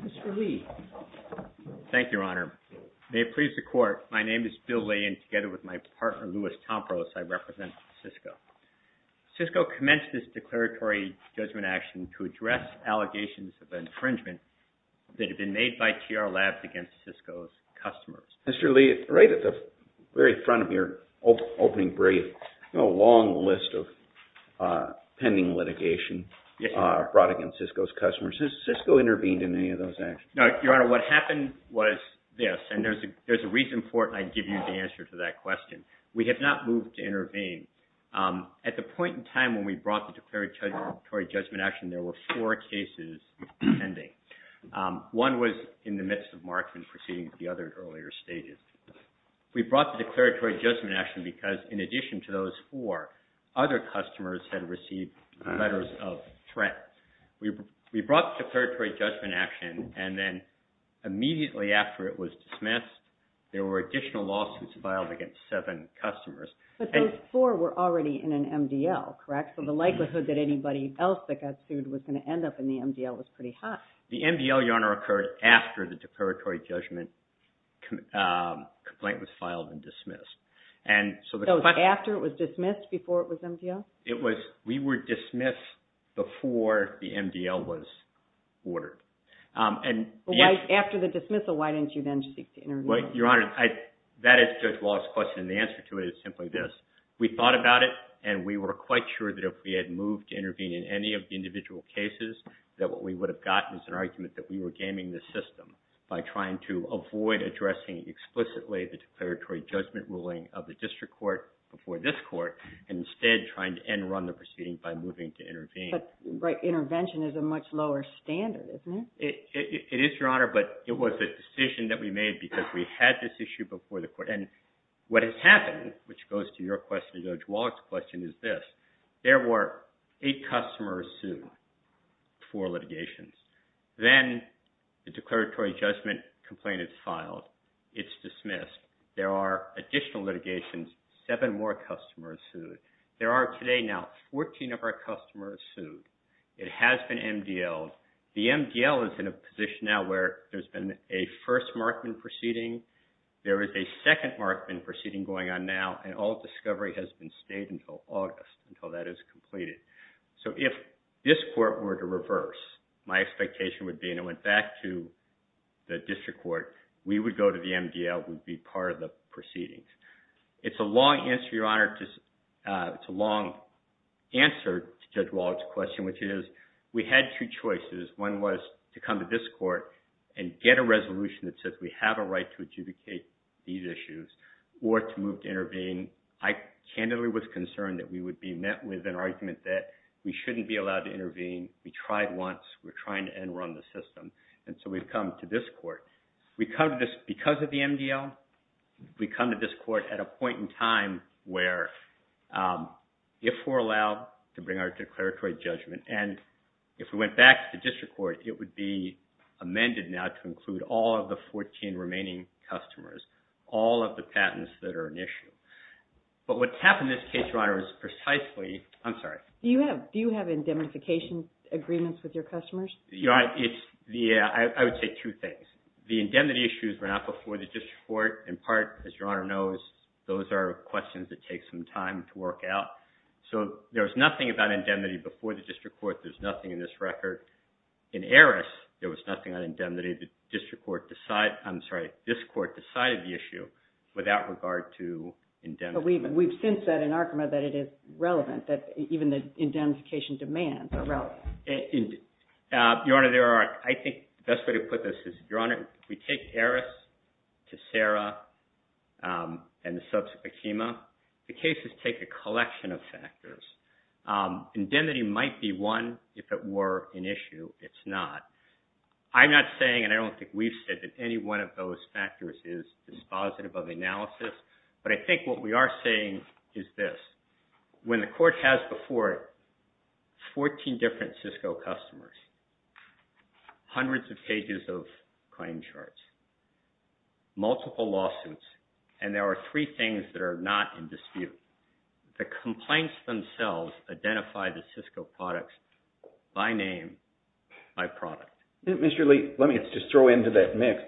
Mr. Lee. Thank you, Your Honor. May it please the Court, my name is Bill Lee and together with my partner, Louis Tompros, I represent CISCO. CISCO commenced its declaratory judgment action to address allegations of infringement that have been made by TR Labs against CISCO's customers. Mr. Lee, right at the very front of your opening brief, you have a long list of pending litigation brought against CISCO's customers. Has CISCO intervened in any of those actions? No, Your Honor, what happened was this, and there's a reason for it and I'd give you the answer to that question. We have not moved to intervene. At the point in time when we brought the declaratory judgment action, there were four cases pending. One was in the midst of Markman proceeding to the other earlier stages. We brought the declaratory judgment action because in addition to those four, other customers had received letters of threat. We brought the declaratory judgment action and then immediately after it was dismissed, there were additional lawsuits filed against seven customers. But those four were already in an MDL, correct? So the likelihood that anybody else that got sued was going to end up in the MDL was pretty high. The MDL, Your Honor, occurred after the declaratory judgment complaint was filed and dismissed. So after it was dismissed, before it was MDL? We were dismissed before the MDL was ordered. After the dismissal, why didn't you then seek to intervene? Your Honor, that is Judge Wallace's question and the answer to it is simply this. We thought about it and we were quite sure that if we had moved to intervene in any of the individual cases, that what we would have gotten is an argument that we were gaming the system by trying to avoid addressing explicitly the declaratory judgment ruling of the district court before this court and instead trying to end run the proceeding by moving to intervene. But intervention is a much lower standard, isn't it? It is, Your Honor, but it was a decision that we made because we had this issue before the court. And what has happened, which goes to your question, Judge Wallace's question, is this. There were eight customers sued, four litigations. Then the declaratory judgment complaint is filed. It's dismissed. There are additional litigations, seven more customers sued. There are today now 14 of our customers sued. It has been MDLed. The MDL is in a position now where there's been a first Markman proceeding. There is a second Markman proceeding going on now, and all discovery has been stayed until August, until that is completed. So if this court were to reverse, my expectation would be, and it went back to the district court, we would go to the MDL. We'd be part of the proceedings. It's a long answer, Your Honor. It's a long answer to Judge Wallace's question, which is we had two choices. One was to come to this court and get a resolution that says we have a right to adjudicate these issues or to move to intervene. I candidly was concerned that we would be met with an argument that we shouldn't be allowed to intervene. We tried once. We're trying to end run the system. And so we've come to this court. We come to this because of the MDL. We come to this court at a point in time where if we're allowed to bring our declaratory judgment, and if we went back to the district court, it would be amended now to include all of the 14 remaining customers, all of the patents that are an issue. But what's happened in this case, Your Honor, is precisely – I'm sorry. Do you have indemnification agreements with your customers? I would say two things. The indemnity issues were not before the district court. In part, as Your Honor knows, those are questions that take some time to work out. So there was nothing about indemnity before the district court. There's nothing in this record. In Eris, there was nothing on indemnity. The district court – I'm sorry. This court decided the issue without regard to indemnification. But we've since said in Arkema that it is relevant, that even the indemnification demands are relevant. Your Honor, there are – I think the best way to put this is, Your Honor, if we take Eris to Sara and the subsequent Arkema, the cases take a collection of factors. Indemnity might be one. If it were an issue, it's not. I'm not saying and I don't think we've said that any one of those factors is dispositive of analysis. But I think what we are saying is this. When the court has before it 14 different Cisco customers, hundreds of pages of claim charts, multiple lawsuits, and there are three things that are not in dispute, the complaints themselves identify the Cisco products by name, by product. Mr. Lee, let me just throw into that mix.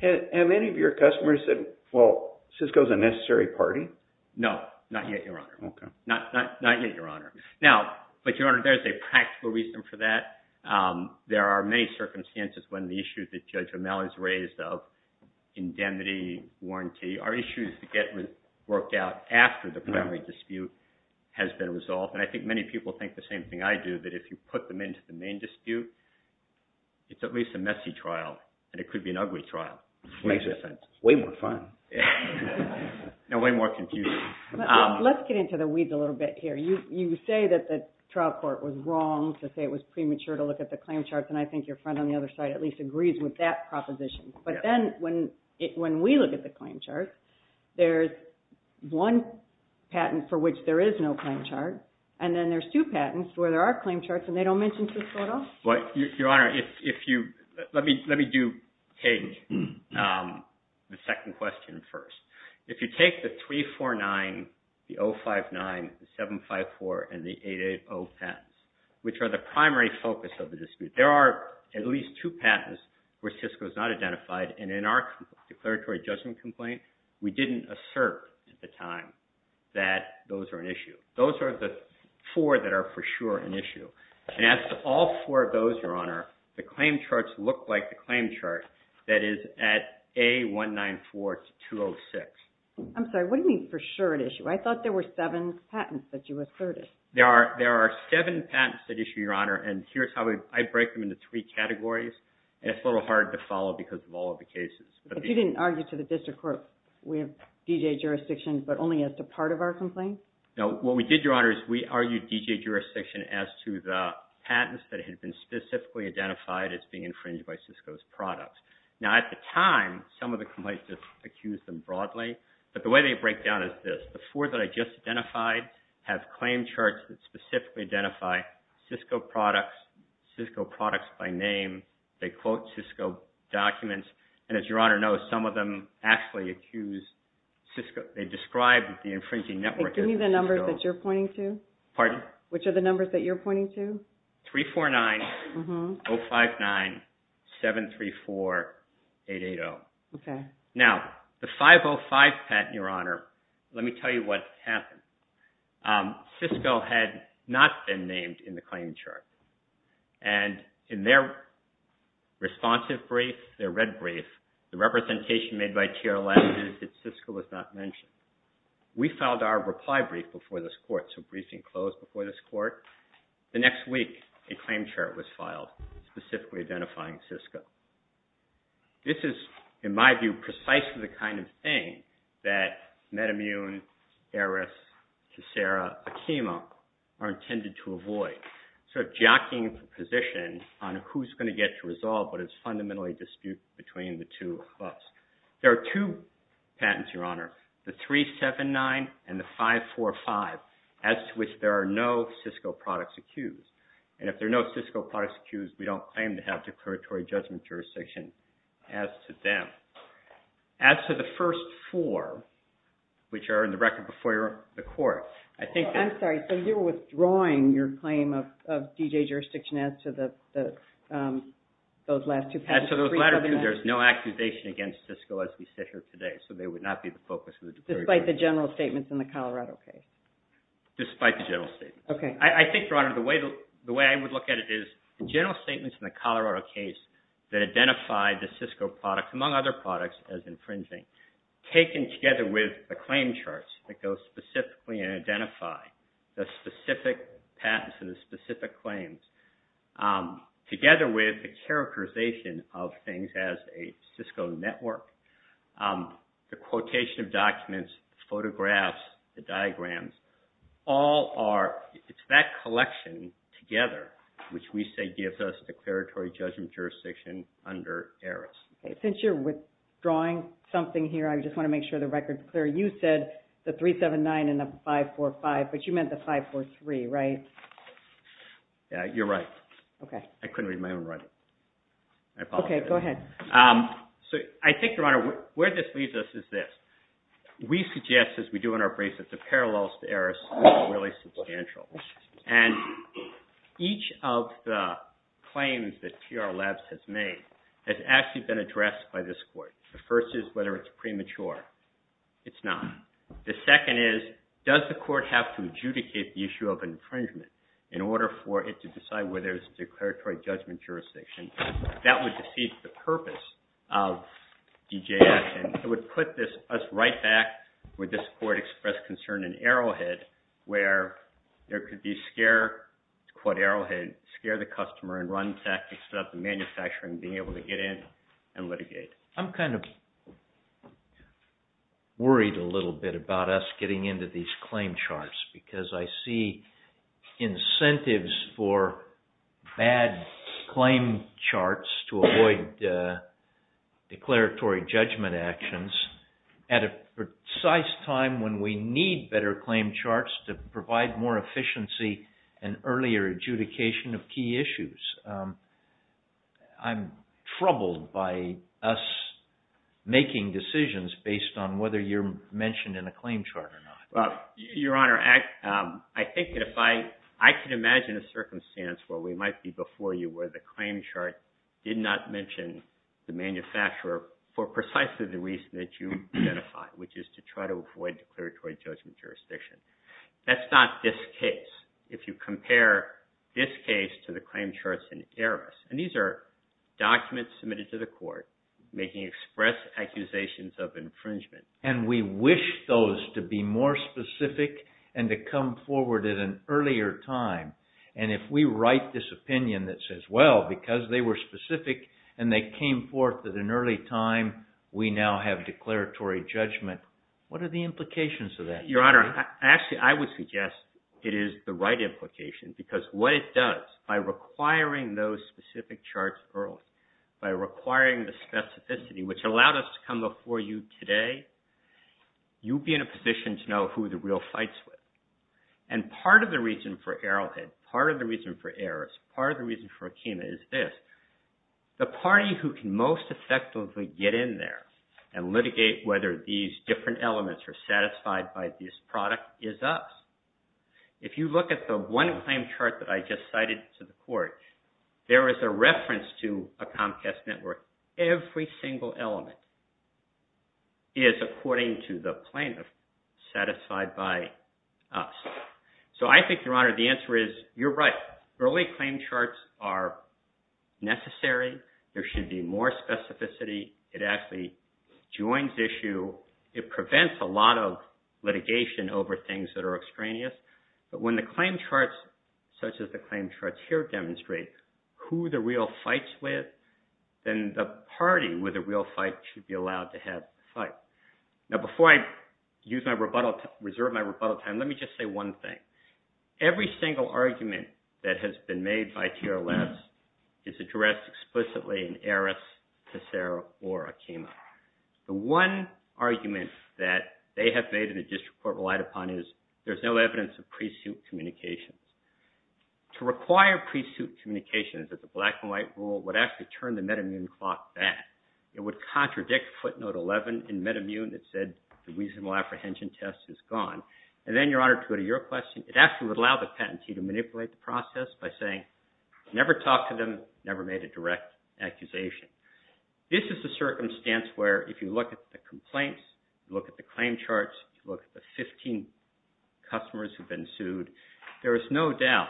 Have any of your customers said, well, Cisco is a necessary party? No, not yet, Your Honor. Okay. Not yet, Your Honor. Now, but Your Honor, there's a practical reason for that. There are many circumstances when the issue that Judge O'Malley has raised of indemnity, warranty, are issues that get worked out after the primary dispute has been resolved. And I think many people think the same thing I do, that if you put them into the main dispute, it's at least a messy trial and it could be an ugly trial. Makes sense. Way more fun. No, way more confusing. Let's get into the weeds a little bit here. You say that the trial court was wrong to say it was premature to look at the claim charts, and I think your friend on the other side at least agrees with that proposition. But then when we look at the claim charts, there's one patent for which there is no claim chart, and then there's two patents where there are claim charts and they don't mention Cisco at all? Your Honor, let me take the second question first. If you take the 349, the 059, the 754, and the 880 patents, which are the primary focus of the dispute, there are at least two patents where Cisco is not identified. And in our declaratory judgment complaint, we didn't assert at the time that those are an issue. Those are the four that are for sure an issue. And as to all four of those, Your Honor, the claim charts look like the claim chart that is at A194-206. I'm sorry, what do you mean for sure an issue? I thought there were seven patents that you asserted. There are seven patents that issue, Your Honor, and here's how I break them into three categories, and it's a little hard to follow because of all of the cases. But you didn't argue to the district court, we have D.J. jurisdictions, but only as to part of our complaint? No, what we did, Your Honor, is we argued D.J. jurisdiction as to the patents that had been specifically identified as being infringed by Cisco's products. Now, at the time, some of the complaints accused them broadly, but the way they break down is this. The four that I just identified have claim charts that specifically identify Cisco products, Cisco products by name, they quote Cisco documents, and as Your Honor knows, some of them actually accuse Cisco. They describe the infringing network as Cisco. And give me the numbers that you're pointing to. Pardon? Which are the numbers that you're pointing to? 349-059-734-880. Okay. Now, the 505 patent, Your Honor, let me tell you what happened. Cisco had not been named in the claim chart, and in their responsive brief, their red brief, the representation made by TRLS is that Cisco was not mentioned. We filed our reply brief before this court, so briefing closed before this court. The next week, a claim chart was filed specifically identifying Cisco. This is, in my view, precisely the kind of thing that MedImmune, ARIS, Kisara, Akima are intended to avoid. Sort of jockeying the position on who's going to get to resolve what is fundamentally disputed between the two of us. There are two patents, Your Honor. The 379 and the 545, as to which there are no Cisco products accused. And if there are no Cisco products accused, we don't claim to have declaratory judgment jurisdiction as to them. As to the first four, which are in the record before the court, I think that... I'm sorry. So you're withdrawing your claim of DJ jurisdiction as to those last two patents? Yes, so those latter two, there's no accusation against Cisco as we sit here today. So they would not be the focus of the declaratory... Despite the general statements in the Colorado case? Despite the general statements. I think, Your Honor, the way I would look at it is the general statements in the Colorado case that identified the Cisco product, among other products, as infringing, taken together with the claim charts that go specifically and identify the specific patents and the specific claims, together with the characterization of things as a Cisco network, the quotation of documents, photographs, the diagrams, all are... It's that collection together which we say gives us declaratory judgment jurisdiction under Eris. Since you're withdrawing something here, I just want to make sure the record is clear. You said the 379 and the 545, but you meant the 543, right? Yeah, you're right. Okay. I couldn't read my own writing. Okay, go ahead. So I think, Your Honor, where this leads us is this. We suggest, as we do in our briefs, that the parallels to Eris are really substantial. And each of the claims that TR Labs has made has actually been addressed by this court. The first is whether it's premature. It's not. The second is, does the court have to adjudicate the issue of infringement in order for it to decide whether it's declaratory judgment jurisdiction? That would deceive the purpose of DJF, and it would put us right back where this court expressed concern in Arrowhead, where there could be scare, it's called Arrowhead, scare the customer and run tactics without the manufacturer being able to get in and litigate. I'm kind of worried a little bit about us getting into these claim charts because I see incentives for bad claim charts to avoid declaratory judgment actions at a precise time when we need better claim charts to provide more efficiency and earlier adjudication of key issues. I'm troubled by us making decisions based on whether you're mentioned in a claim chart or not. Your Honor, I think that if I can imagine a circumstance where we might be before you where the claim chart did not mention the manufacturer for precisely the reason that you identified, which is to try to avoid declaratory judgment jurisdiction. That's not this case. If you compare this case to the claim charts in Arris, and these are documents submitted to the court making express accusations of infringement. And we wish those to be more specific and to come forward at an earlier time. And if we write this opinion that says, well, because they were specific and they came forth at an early time, we now have declaratory judgment. What are the implications of that? Your Honor, actually, I would suggest it is the right implication because what it does by requiring those specific charts early, by requiring the specificity which allowed us to come before you today, you'd be in a position to know who the real fight's with. And part of the reason for Arrowhead, part of the reason for Arris, part of the reason for Akima is this. The party who can most effectively get in there and litigate whether these different elements are satisfied by this product is us. If you look at the one claim chart that I just cited to the court, there is a reference to a Comcast network. Every single element is according to the plaintiff satisfied by us. So I think, Your Honor, the answer is you're right. Early claim charts are necessary. There should be more specificity. It actually joins issue. It prevents a lot of litigation over things that are extraneous. But when the claim charts such as the claim charts here demonstrate who the real fight's with, then the party with the real fight should be allowed to have the fight. Now, before I use my rebuttal, reserve my rebuttal time, let me just say one thing. Every single argument that has been made by TR Labs is addressed explicitly in Arris, Tessera, or Akima. The one argument that they have made and the district court relied upon is there's no evidence of pre-suit communications. To require pre-suit communications as a black-and-white rule would actually turn the MedImmune clock back. It would contradict footnote 11 in MedImmune that said the reasonable apprehension test is gone. And then, Your Honor, to go to your question, it actually would allow the patentee to manipulate the process by saying never talk to them, never made a direct accusation. This is a circumstance where if you look at the complaints, look at the claim charts, look at the 15 customers who've been sued, there is no doubt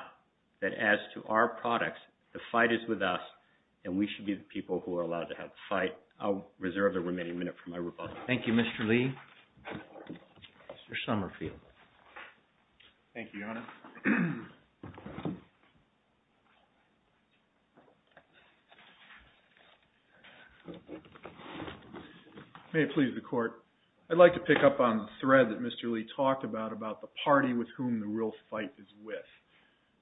that as to our products, the fight is with us and we should be the people who are allowed to have the fight. I'll reserve the remaining minute for my rebuttal. Thank you, Mr. Lee. Mr. Summerfield. Thank you, Your Honor. May it please the Court, I'd like to pick up on the thread that Mr. Lee talked about, about the party with whom the real fight is with.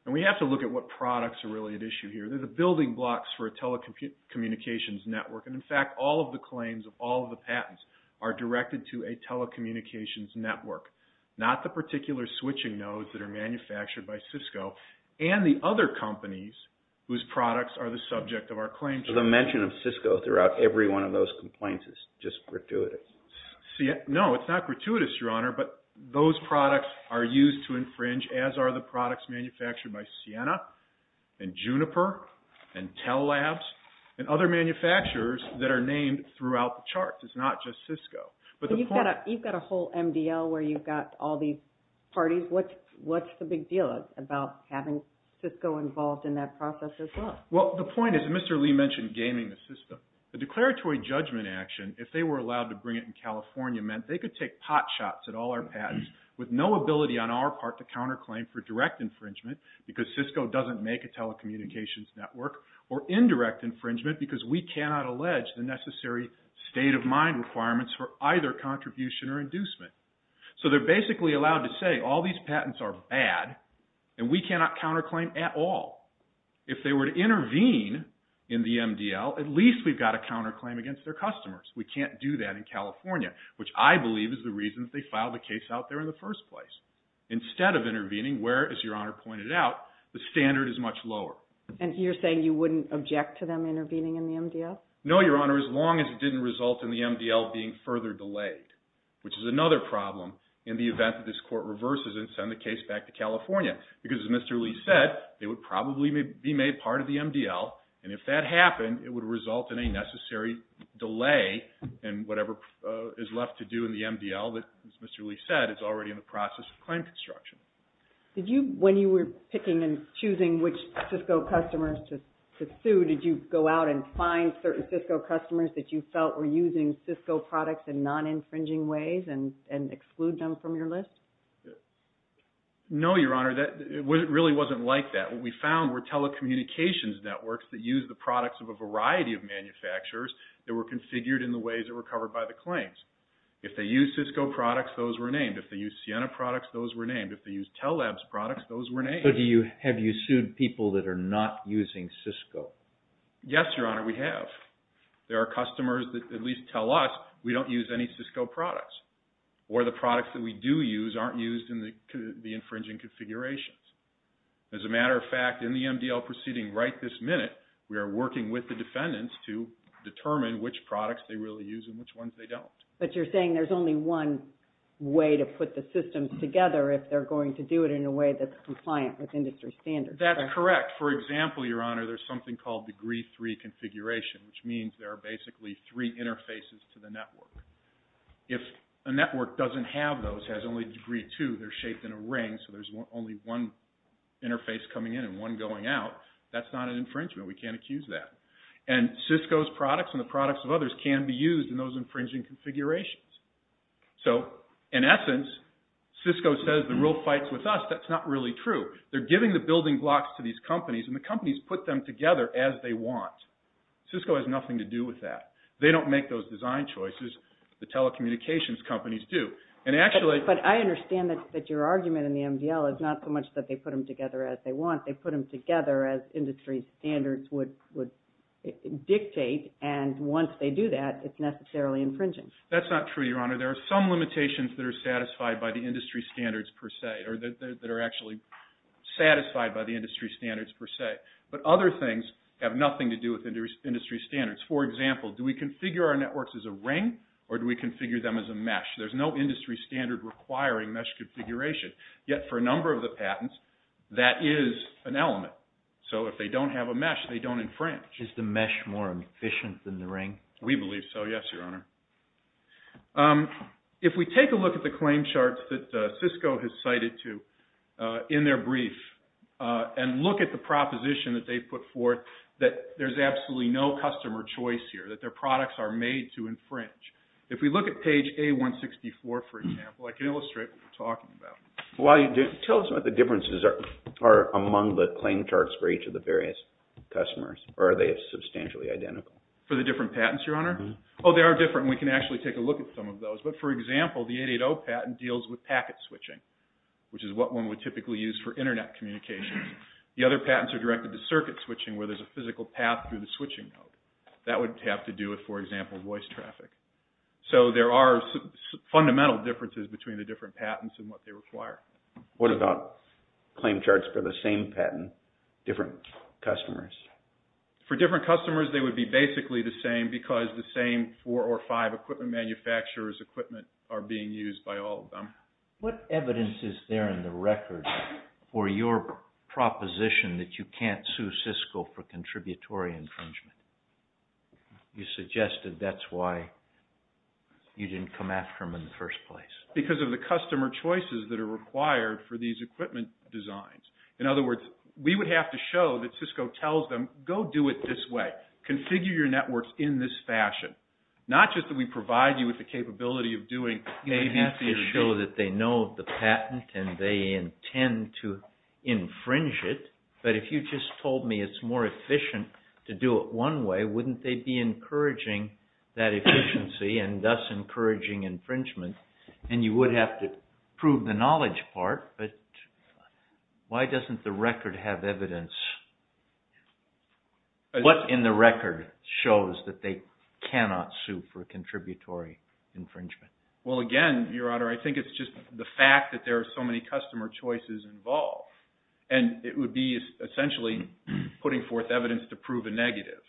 And we have to look at what products are really at issue here. They're the building blocks for a telecommunications network. And in fact, all of the claims of all of the patents are directed to a telecommunications network, not the particular switching nodes that are manufactured by Cisco and the other companies whose products are the subject of our claims. The mention of Cisco throughout every one of those complaints is just gratuitous. No, it's not gratuitous, Your Honor, but those products are used to infringe, as are the products manufactured by Ciena and Juniper and Tel Labs and other manufacturers that are named throughout the charts. It's not just Cisco. But you've got a whole MDL where you've got all these parties. What's the big deal about having Cisco involved in that process as well? Well, the point is, Mr. Lee mentioned gaming the system. The declaratory judgment action, if they were allowed to bring it in California, meant they could take pot shots at all our patents with no ability on our part to counterclaim for direct infringement because Cisco doesn't make a telecommunications network or indirect infringement because we cannot allege the necessary state-of-mind requirements for either contribution or inducement. So they're basically allowed to say all these patents are bad and we cannot counterclaim at all. If they were to intervene in the MDL, at least we've got to counterclaim against their customers. We can't do that in California, which I believe is the reason they filed a case out there in the first place. Instead of intervening where, as Your Honor pointed out, the standard is much lower. And you're saying you wouldn't object to them intervening in the MDL? No, Your Honor, as long as it didn't result in the MDL being further delayed, which is another problem in the event that this court reverses and sends the case back to California because, as Mr. Lee said, they would probably be made part of the MDL. And if that happened, it would result in a necessary delay and whatever is left to do in the MDL, as Mr. Lee said, is already in the process of claim construction. When you were picking and choosing which Cisco customers to sue, did you go out and find certain Cisco customers that you felt were using Cisco products in non-infringing ways and exclude them from your list? No, Your Honor, it really wasn't like that. What we found were telecommunications networks that used the products of a variety of manufacturers that were configured in the ways that were covered by the claims. If they used Cisco products, those were named. If they used Siena products, those were named. If they used Telabs products, those were named. And so have you sued people that are not using Cisco? Yes, Your Honor, we have. There are customers that at least tell us we don't use any Cisco products or the products that we do use aren't used in the infringing configurations. As a matter of fact, in the MDL proceeding right this minute, we are working with the defendants to determine which products they really use and which ones they don't. But you're saying there's only one way to put the systems together if they're going to do it in a way that's compliant with industry standards. That's correct. For example, Your Honor, there's something called degree three configuration, which means there are basically three interfaces to the network. If a network doesn't have those, has only degree two, they're shaped in a ring, so there's only one interface coming in and one going out, that's not an infringement. We can't accuse that. And Cisco's products and the products of others can be used in those infringing configurations. So, in essence, Cisco says the rule fights with us. That's not really true. They're giving the building blocks to these companies, and the companies put them together as they want. Cisco has nothing to do with that. They don't make those design choices. The telecommunications companies do. But I understand that your argument in the MDL is not so much that they put them together as they want. They put them together as industry standards would dictate, and once they do that, it's necessarily infringing. That's not true, Your Honor. There are some limitations that are satisfied by the industry standards per se, or that are actually satisfied by the industry standards per se. But other things have nothing to do with industry standards. For example, do we configure our networks as a ring, or do we configure them as a mesh? There's no industry standard requiring mesh configuration. Yet, for a number of the patents, that is an element. So if they don't have a mesh, they don't infringe. Is the mesh more efficient than the ring? We believe so, yes, Your Honor. If we take a look at the claim charts that Cisco has cited to in their brief and look at the proposition that they've put forth, that there's absolutely no customer choice here, that their products are made to infringe. If we look at page A-164, for example, I can illustrate what we're talking about. Tell us what the differences are among the claim charts for each of the various customers, or are they substantially identical? For the different patents, Your Honor? Oh, they are different, and we can actually take a look at some of those. But, for example, the 880 patent deals with packet switching, which is what one would typically use for Internet communication. The other patents are directed to circuit switching, where there's a physical path through the switching node. That would have to do with, for example, voice traffic. So there are fundamental differences between the different patents and what they require. What about claim charts for the same patent, different customers? For different customers, they would be basically the same because the same four or five equipment manufacturers' equipment are being used by all of them. What evidence is there in the record for your proposition that you can't sue Cisco for contributory infringement? You suggested that's why you didn't come after them in the first place. Because of the customer choices that are required for these equipment designs. In other words, we would have to show that Cisco tells them, go do it this way. Configure your networks in this fashion. Not just that we provide you with the capability of doing... You would have to show that they know the patent and they intend to infringe it. But if you just told me it's more efficient to do it one way, wouldn't they be encouraging that efficiency and thus encouraging infringement? And you would have to prove the knowledge part. But why doesn't the record have evidence? What in the record shows that they cannot sue for contributory infringement? Well, again, Your Honor, I think it's just the fact that there are so many customer choices involved. And it would be essentially putting forth evidence to prove a negative.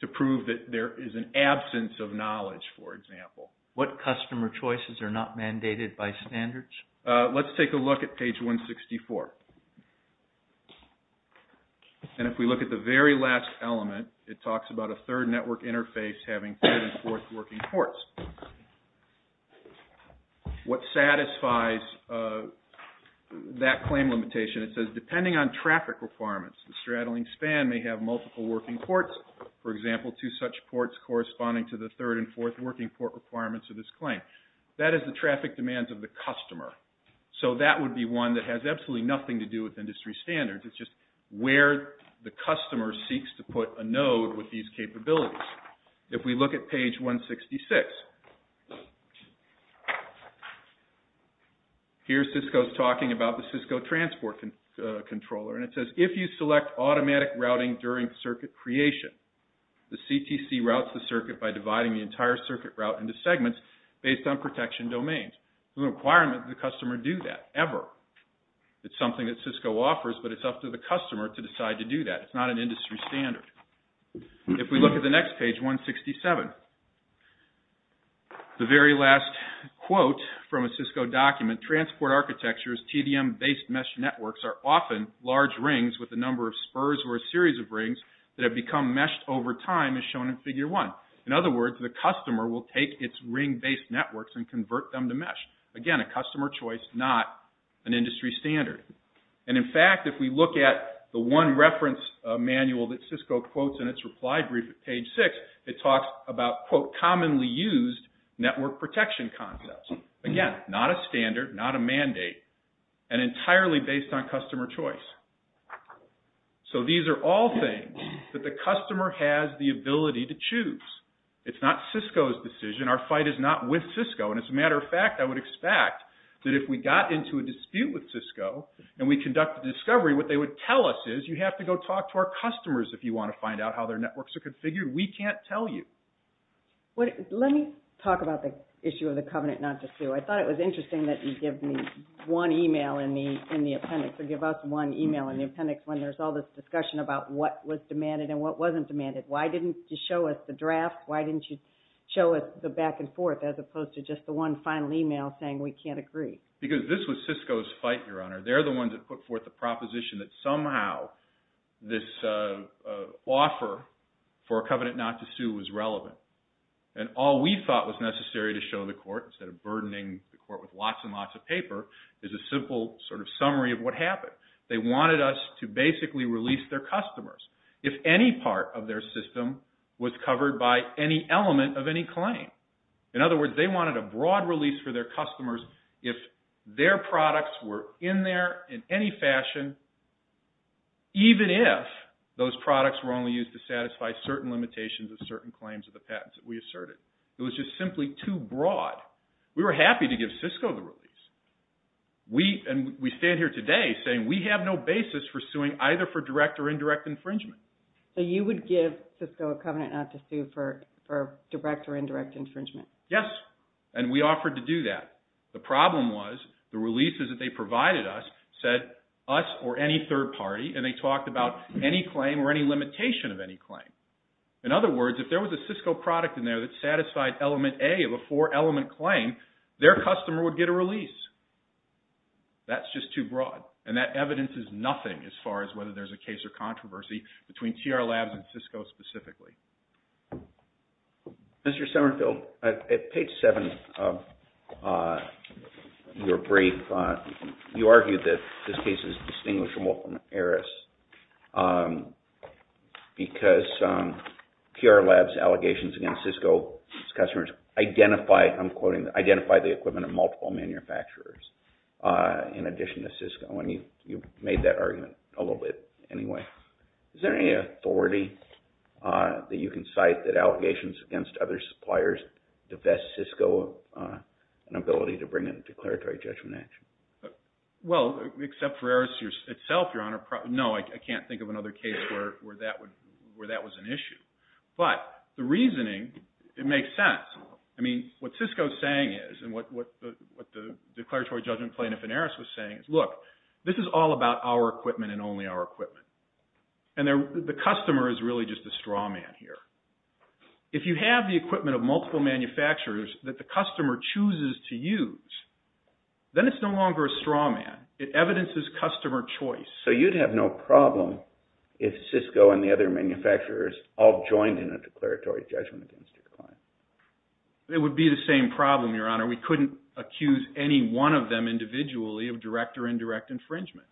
To prove that there is an absence of knowledge, for example. What customer choices are not mandated by standards? Let's take a look at page 164. And if we look at the very last element, it talks about a third network interface having third and fourth working ports. What satisfies that claim limitation? It says, depending on traffic requirements, the straddling span may have multiple working ports. For example, two such ports corresponding to the third and fourth working port requirements of this claim. That is the traffic demands of the customer. So that would be one that has absolutely nothing to do with industry standards. It's just where the customer seeks to put a node with these capabilities. If we look at page 166, here Cisco is talking about the Cisco transport controller. And it says, if you select automatic routing during circuit creation, the CTC routes the circuit by dividing the entire circuit route into segments based on protection domains. There's no requirement that the customer do that ever. It's something that Cisco offers, but it's up to the customer to decide to do that. It's not an industry standard. If we look at the next page, 167, the very last quote from a Cisco document, transport architectures, TDM-based mesh networks, are often large rings with a number of spurs or a series of rings that have become meshed over time as shown in figure one. In other words, the customer will take its ring-based networks and convert them to mesh. Again, a customer choice, not an industry standard. And in fact, if we look at the one reference manual that Cisco quotes in its reply brief at page six, it talks about, quote, commonly used network protection concepts. Again, not a standard, not a mandate, and entirely based on customer choice. So these are all things that the customer has the ability to choose. It's not Cisco's decision. Our fight is not with Cisco, and as a matter of fact, I would expect that if we got into a dispute with Cisco and we conducted a discovery, what they would tell us is, you have to go talk to our customers if you want to find out how their networks are configured. We can't tell you. Let me talk about the issue of the covenant not to sue. I thought it was interesting that you give me one email in the appendix or give us one email in the appendix when there's all this discussion about what was demanded and what wasn't demanded. Why didn't you show us the draft? Why didn't you show us the back and forth as opposed to just the one final email saying we can't agree? Because this was Cisco's fight, Your Honor. They're the ones that put forth the proposition that somehow this offer for a covenant not to sue was relevant. And all we thought was necessary to show the court, instead of burdening the court with lots and lots of paper, is a simple sort of summary of what happened. They wanted us to basically release their customers if any part of their system was covered by any element of any claim. In other words, they wanted a broad release for their customers if their products were in there in any fashion, even if those products were only used to satisfy certain limitations of certain claims of the patents that we asserted. It was just simply too broad. We were happy to give Cisco the release. We stand here today saying we have no basis for suing either for direct or indirect infringement. So you would give Cisco a covenant not to sue for direct or indirect infringement? Yes, and we offered to do that. The problem was the releases that they provided us said us or any third party, and they talked about any claim or any limitation of any claim. In other words, if there was a Cisco product in there that satisfied element A of a four-element claim, their customer would get a release. That's just too broad, and that evidence is nothing as far as whether there's a case or controversy between TR Labs and Cisco specifically. Mr. Semmerfield, at page 7 of your brief, you argued that this case is distinguished from Wolf and Harris because TR Labs' allegations against Cisco's customers identify, I'm quoting, identify the equipment of multiple manufacturers in addition to Cisco, and you made that argument a little bit anyway. Is there any authority that you can cite that allegations against other suppliers divest Cisco of an ability to bring a declaratory judgment action? Well, except for Harris itself, Your Honor. No, I can't think of another case where that was an issue. But the reasoning, it makes sense. I mean, what Cisco is saying is, and what the declaratory judgment plaintiff in Harris was saying is, look, this is all about our equipment and only our equipment, and the customer is really just a straw man here. If you have the equipment of multiple manufacturers that the customer chooses to use, then it's no longer a straw man. It evidences customer choice. So you'd have no problem if Cisco and the other manufacturers all joined in a declaratory judgment against your client? It would be the same problem, Your Honor. We couldn't accuse any one of them individually of direct or indirect infringement.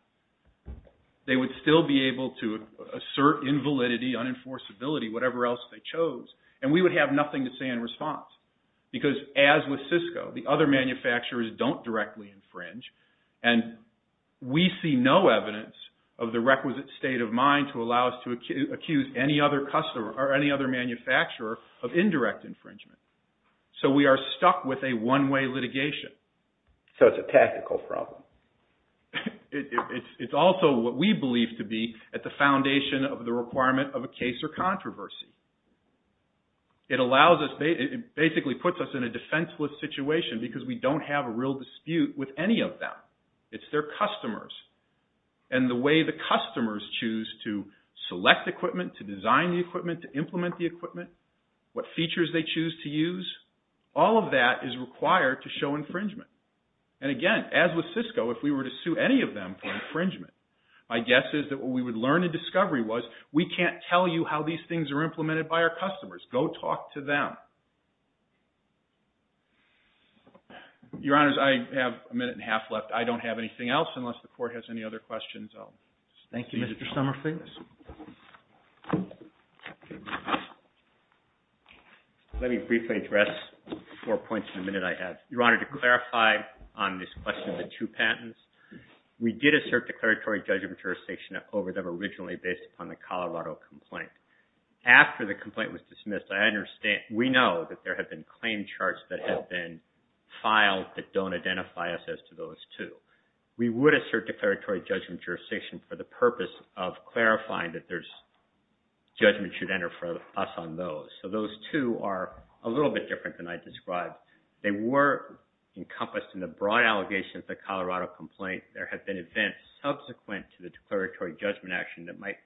They would still be able to assert invalidity, unenforceability, whatever else they chose, and we would have nothing to say in response because, as with Cisco, the other manufacturers don't directly infringe, and we see no evidence of the requisite state of mind to allow us to accuse any other manufacturer of indirect infringement. So we are stuck with a one-way litigation. So it's a tactical problem. It's also what we believe to be at the foundation of the requirement of a case or controversy. It basically puts us in a defenseless situation because we don't have a real dispute with any of them. It's their customers. And the way the customers choose to select equipment, to design the equipment, to implement the equipment, what features they choose to use, all of that is required to show infringement. And again, as with Cisco, if we were to sue any of them for infringement, my guess is that what we would learn in discovery was, we can't tell you how these things are implemented by our customers. Go talk to them. Your Honors, I have a minute and a half left. I don't have anything else unless the Court has any other questions. Thank you, Mr. Summerfield. Let me briefly address four points in the minute I have. Your Honor, to clarify on this question of the two patents, we did assert declaratory judgment jurisdiction over them originally based upon the Colorado complaint. After the complaint was dismissed, I understand, we know that there have been claim charts that have been filed that don't identify us as to those two. We would assert declaratory judgment jurisdiction for the purpose of clarifying that judgment should enter for us on those. So those two are a little bit different than I described. They were encompassed in the broad allegations of the Colorado complaint. There have been events subsequent to the declaratory judgment action that might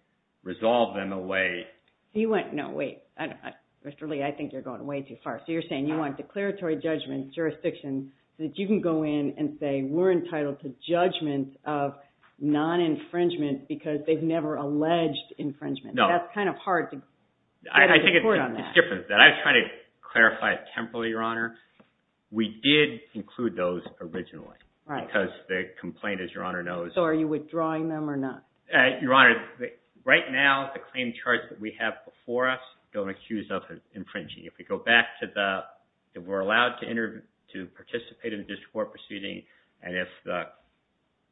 resolve them away. Wait, Mr. Lee, I think you're going way too far. So you're saying you want declaratory judgment jurisdiction that you can go in and say we're entitled to judgment of non-infringement because they've never alleged infringement. That's kind of hard to get a report on that. I think it's different. I was trying to clarify it temporarily, Your Honor. We did include those originally because the complaint, as Your Honor knows. So are you withdrawing them or not? Your Honor, right now the claim charts that we have before us don't accuse us of infringing. If we go back to the we're allowed to participate in a district court proceeding and if the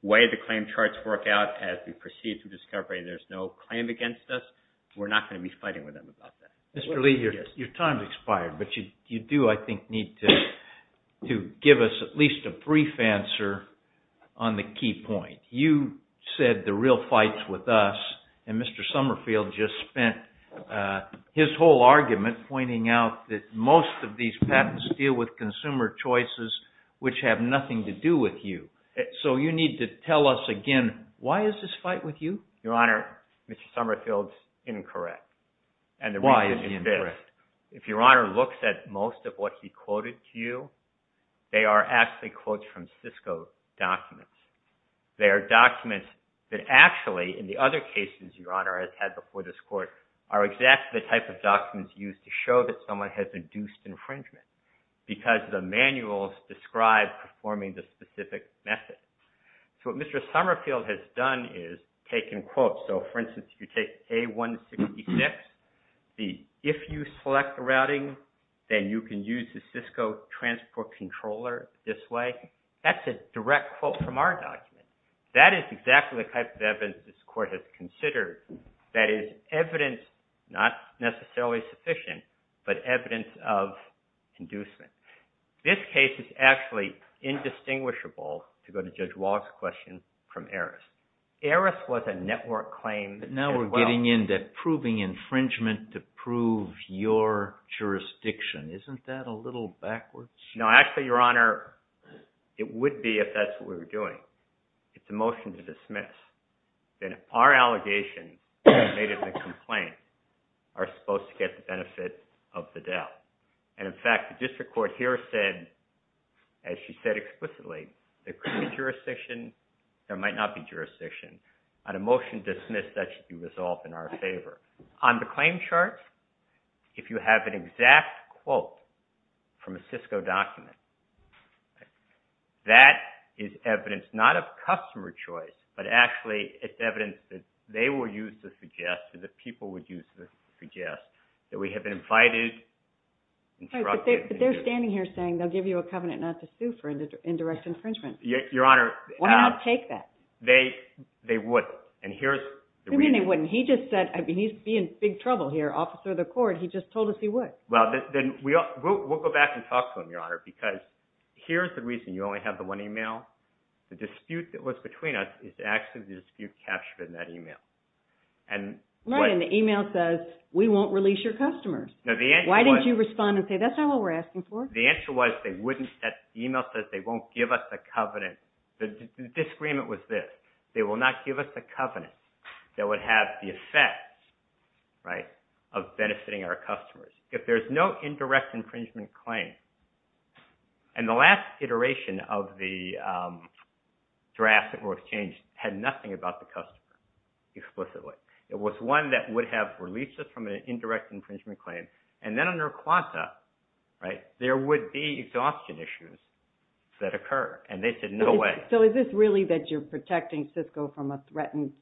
way the claim charts work out as we proceed through discovery there's no claim against us, we're not going to be fighting with them about that. Mr. Lee, your time has expired, but you do, I think, need to give us at least a brief answer on the key point. You said the real fight's with us and Mr. Summerfield just spent his whole argument pointing out that most of these patents deal with consumer choices which have nothing to do with you. So you need to tell us again why is this fight with you? Your Honor, Mr. Summerfield's incorrect. Why is he incorrect? If Your Honor looks at most of what he quoted to you, they are actually quotes from Cisco documents. They are documents that actually, in the other cases Your Honor has had before this court, are exactly the type of documents used to show that someone has induced infringement because the manuals describe performing the specific method. So what Mr. Summerfield has done is taken quotes. So, for instance, if you take A-166, the if you select the routing, then you can use the Cisco transport controller this way, that's a direct quote from our document. That is exactly the type of evidence this court has considered. That is evidence not necessarily sufficient, but evidence of inducement. This case is actually indistinguishable, to go to Judge Wall's question, from Eris. Eris was a network claim as well. But now we're getting into proving infringement to prove your jurisdiction. Isn't that a little backwards? No, actually, Your Honor, it would be if that's what we were doing. It's a motion to dismiss. Then our allegation, made as a complaint, are supposed to get the benefit of the doubt. And in fact, the district court here said, as she said explicitly, there could be jurisdiction, there might not be jurisdiction. On a motion to dismiss, that should be resolved in our favor. On the claim charts, if you have an exact quote from a Cisco document, that is evidence not of customer choice, but actually it's evidence that they will use to suggest, that people would use to suggest, that we have invited, instructed. But they're standing here saying, they'll give you a covenant not to sue for indirect infringement. Your Honor. Why not take that? They wouldn't. And here's the reason. They wouldn't. He just said, he'd be in big trouble here, officer of the court. He just told us he would. We'll go back and talk to him, Your Honor, because here's the reason you only have the one email. The dispute that was between us is actually the dispute captured in that email. And the email says, we won't release your customers. Why didn't you respond and say, that's not what we're asking for? The email says, they won't give us the covenant. The disagreement was this. They will not give us the covenant that would have the effect of benefiting our customers. If there's no indirect infringement claim, and the last iteration of the draft that was changed had nothing about the customer, explicitly. It was one that would have released us from an indirect infringement claim. And then under Quanta, there would be exhaustion issues that occur. And they said, no way. So is this really that you're protecting Cisco from a threatened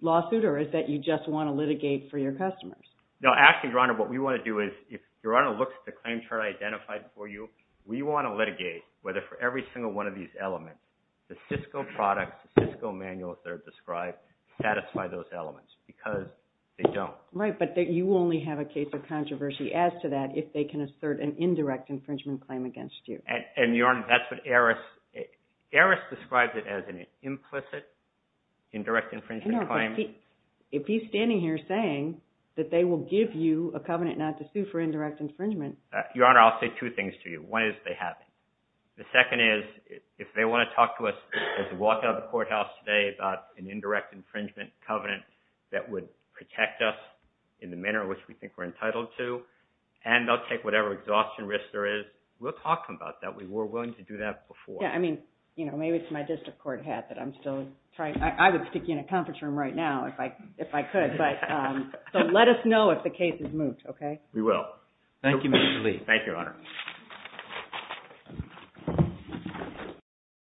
lawsuit, or is that you just want to litigate for your customers? No, actually, Your Honor, what we want to do is, if Your Honor looks at the claim chart I identified for you, we want to litigate whether for every single one of these elements, the Cisco products, the Cisco manuals that are described, satisfy those elements. Because they don't. Right, but you only have a case of controversy as to that if they can assert an indirect infringement claim against you. And, Your Honor, that's what Eris... Eris describes it as an implicit indirect infringement claim. No, but if he's standing here saying that they will give you a covenant not to sue for indirect infringement... Your Honor, I'll say two things to you. One is they have it. The second is, if they want to talk to us as we walk out of the courthouse today about an indirect infringement covenant that would protect us in the manner in which we think we're entitled to, and they'll take whatever exhaustion risk there is, we'll talk to them about that. We were willing to do that before. Yeah, I mean, maybe it's my district court hat that I'm still trying... I would stick you in a conference room right now if I could. But let us know if the case is moved, okay? Thank you, Mr. Lee. Thank you, Your Honor.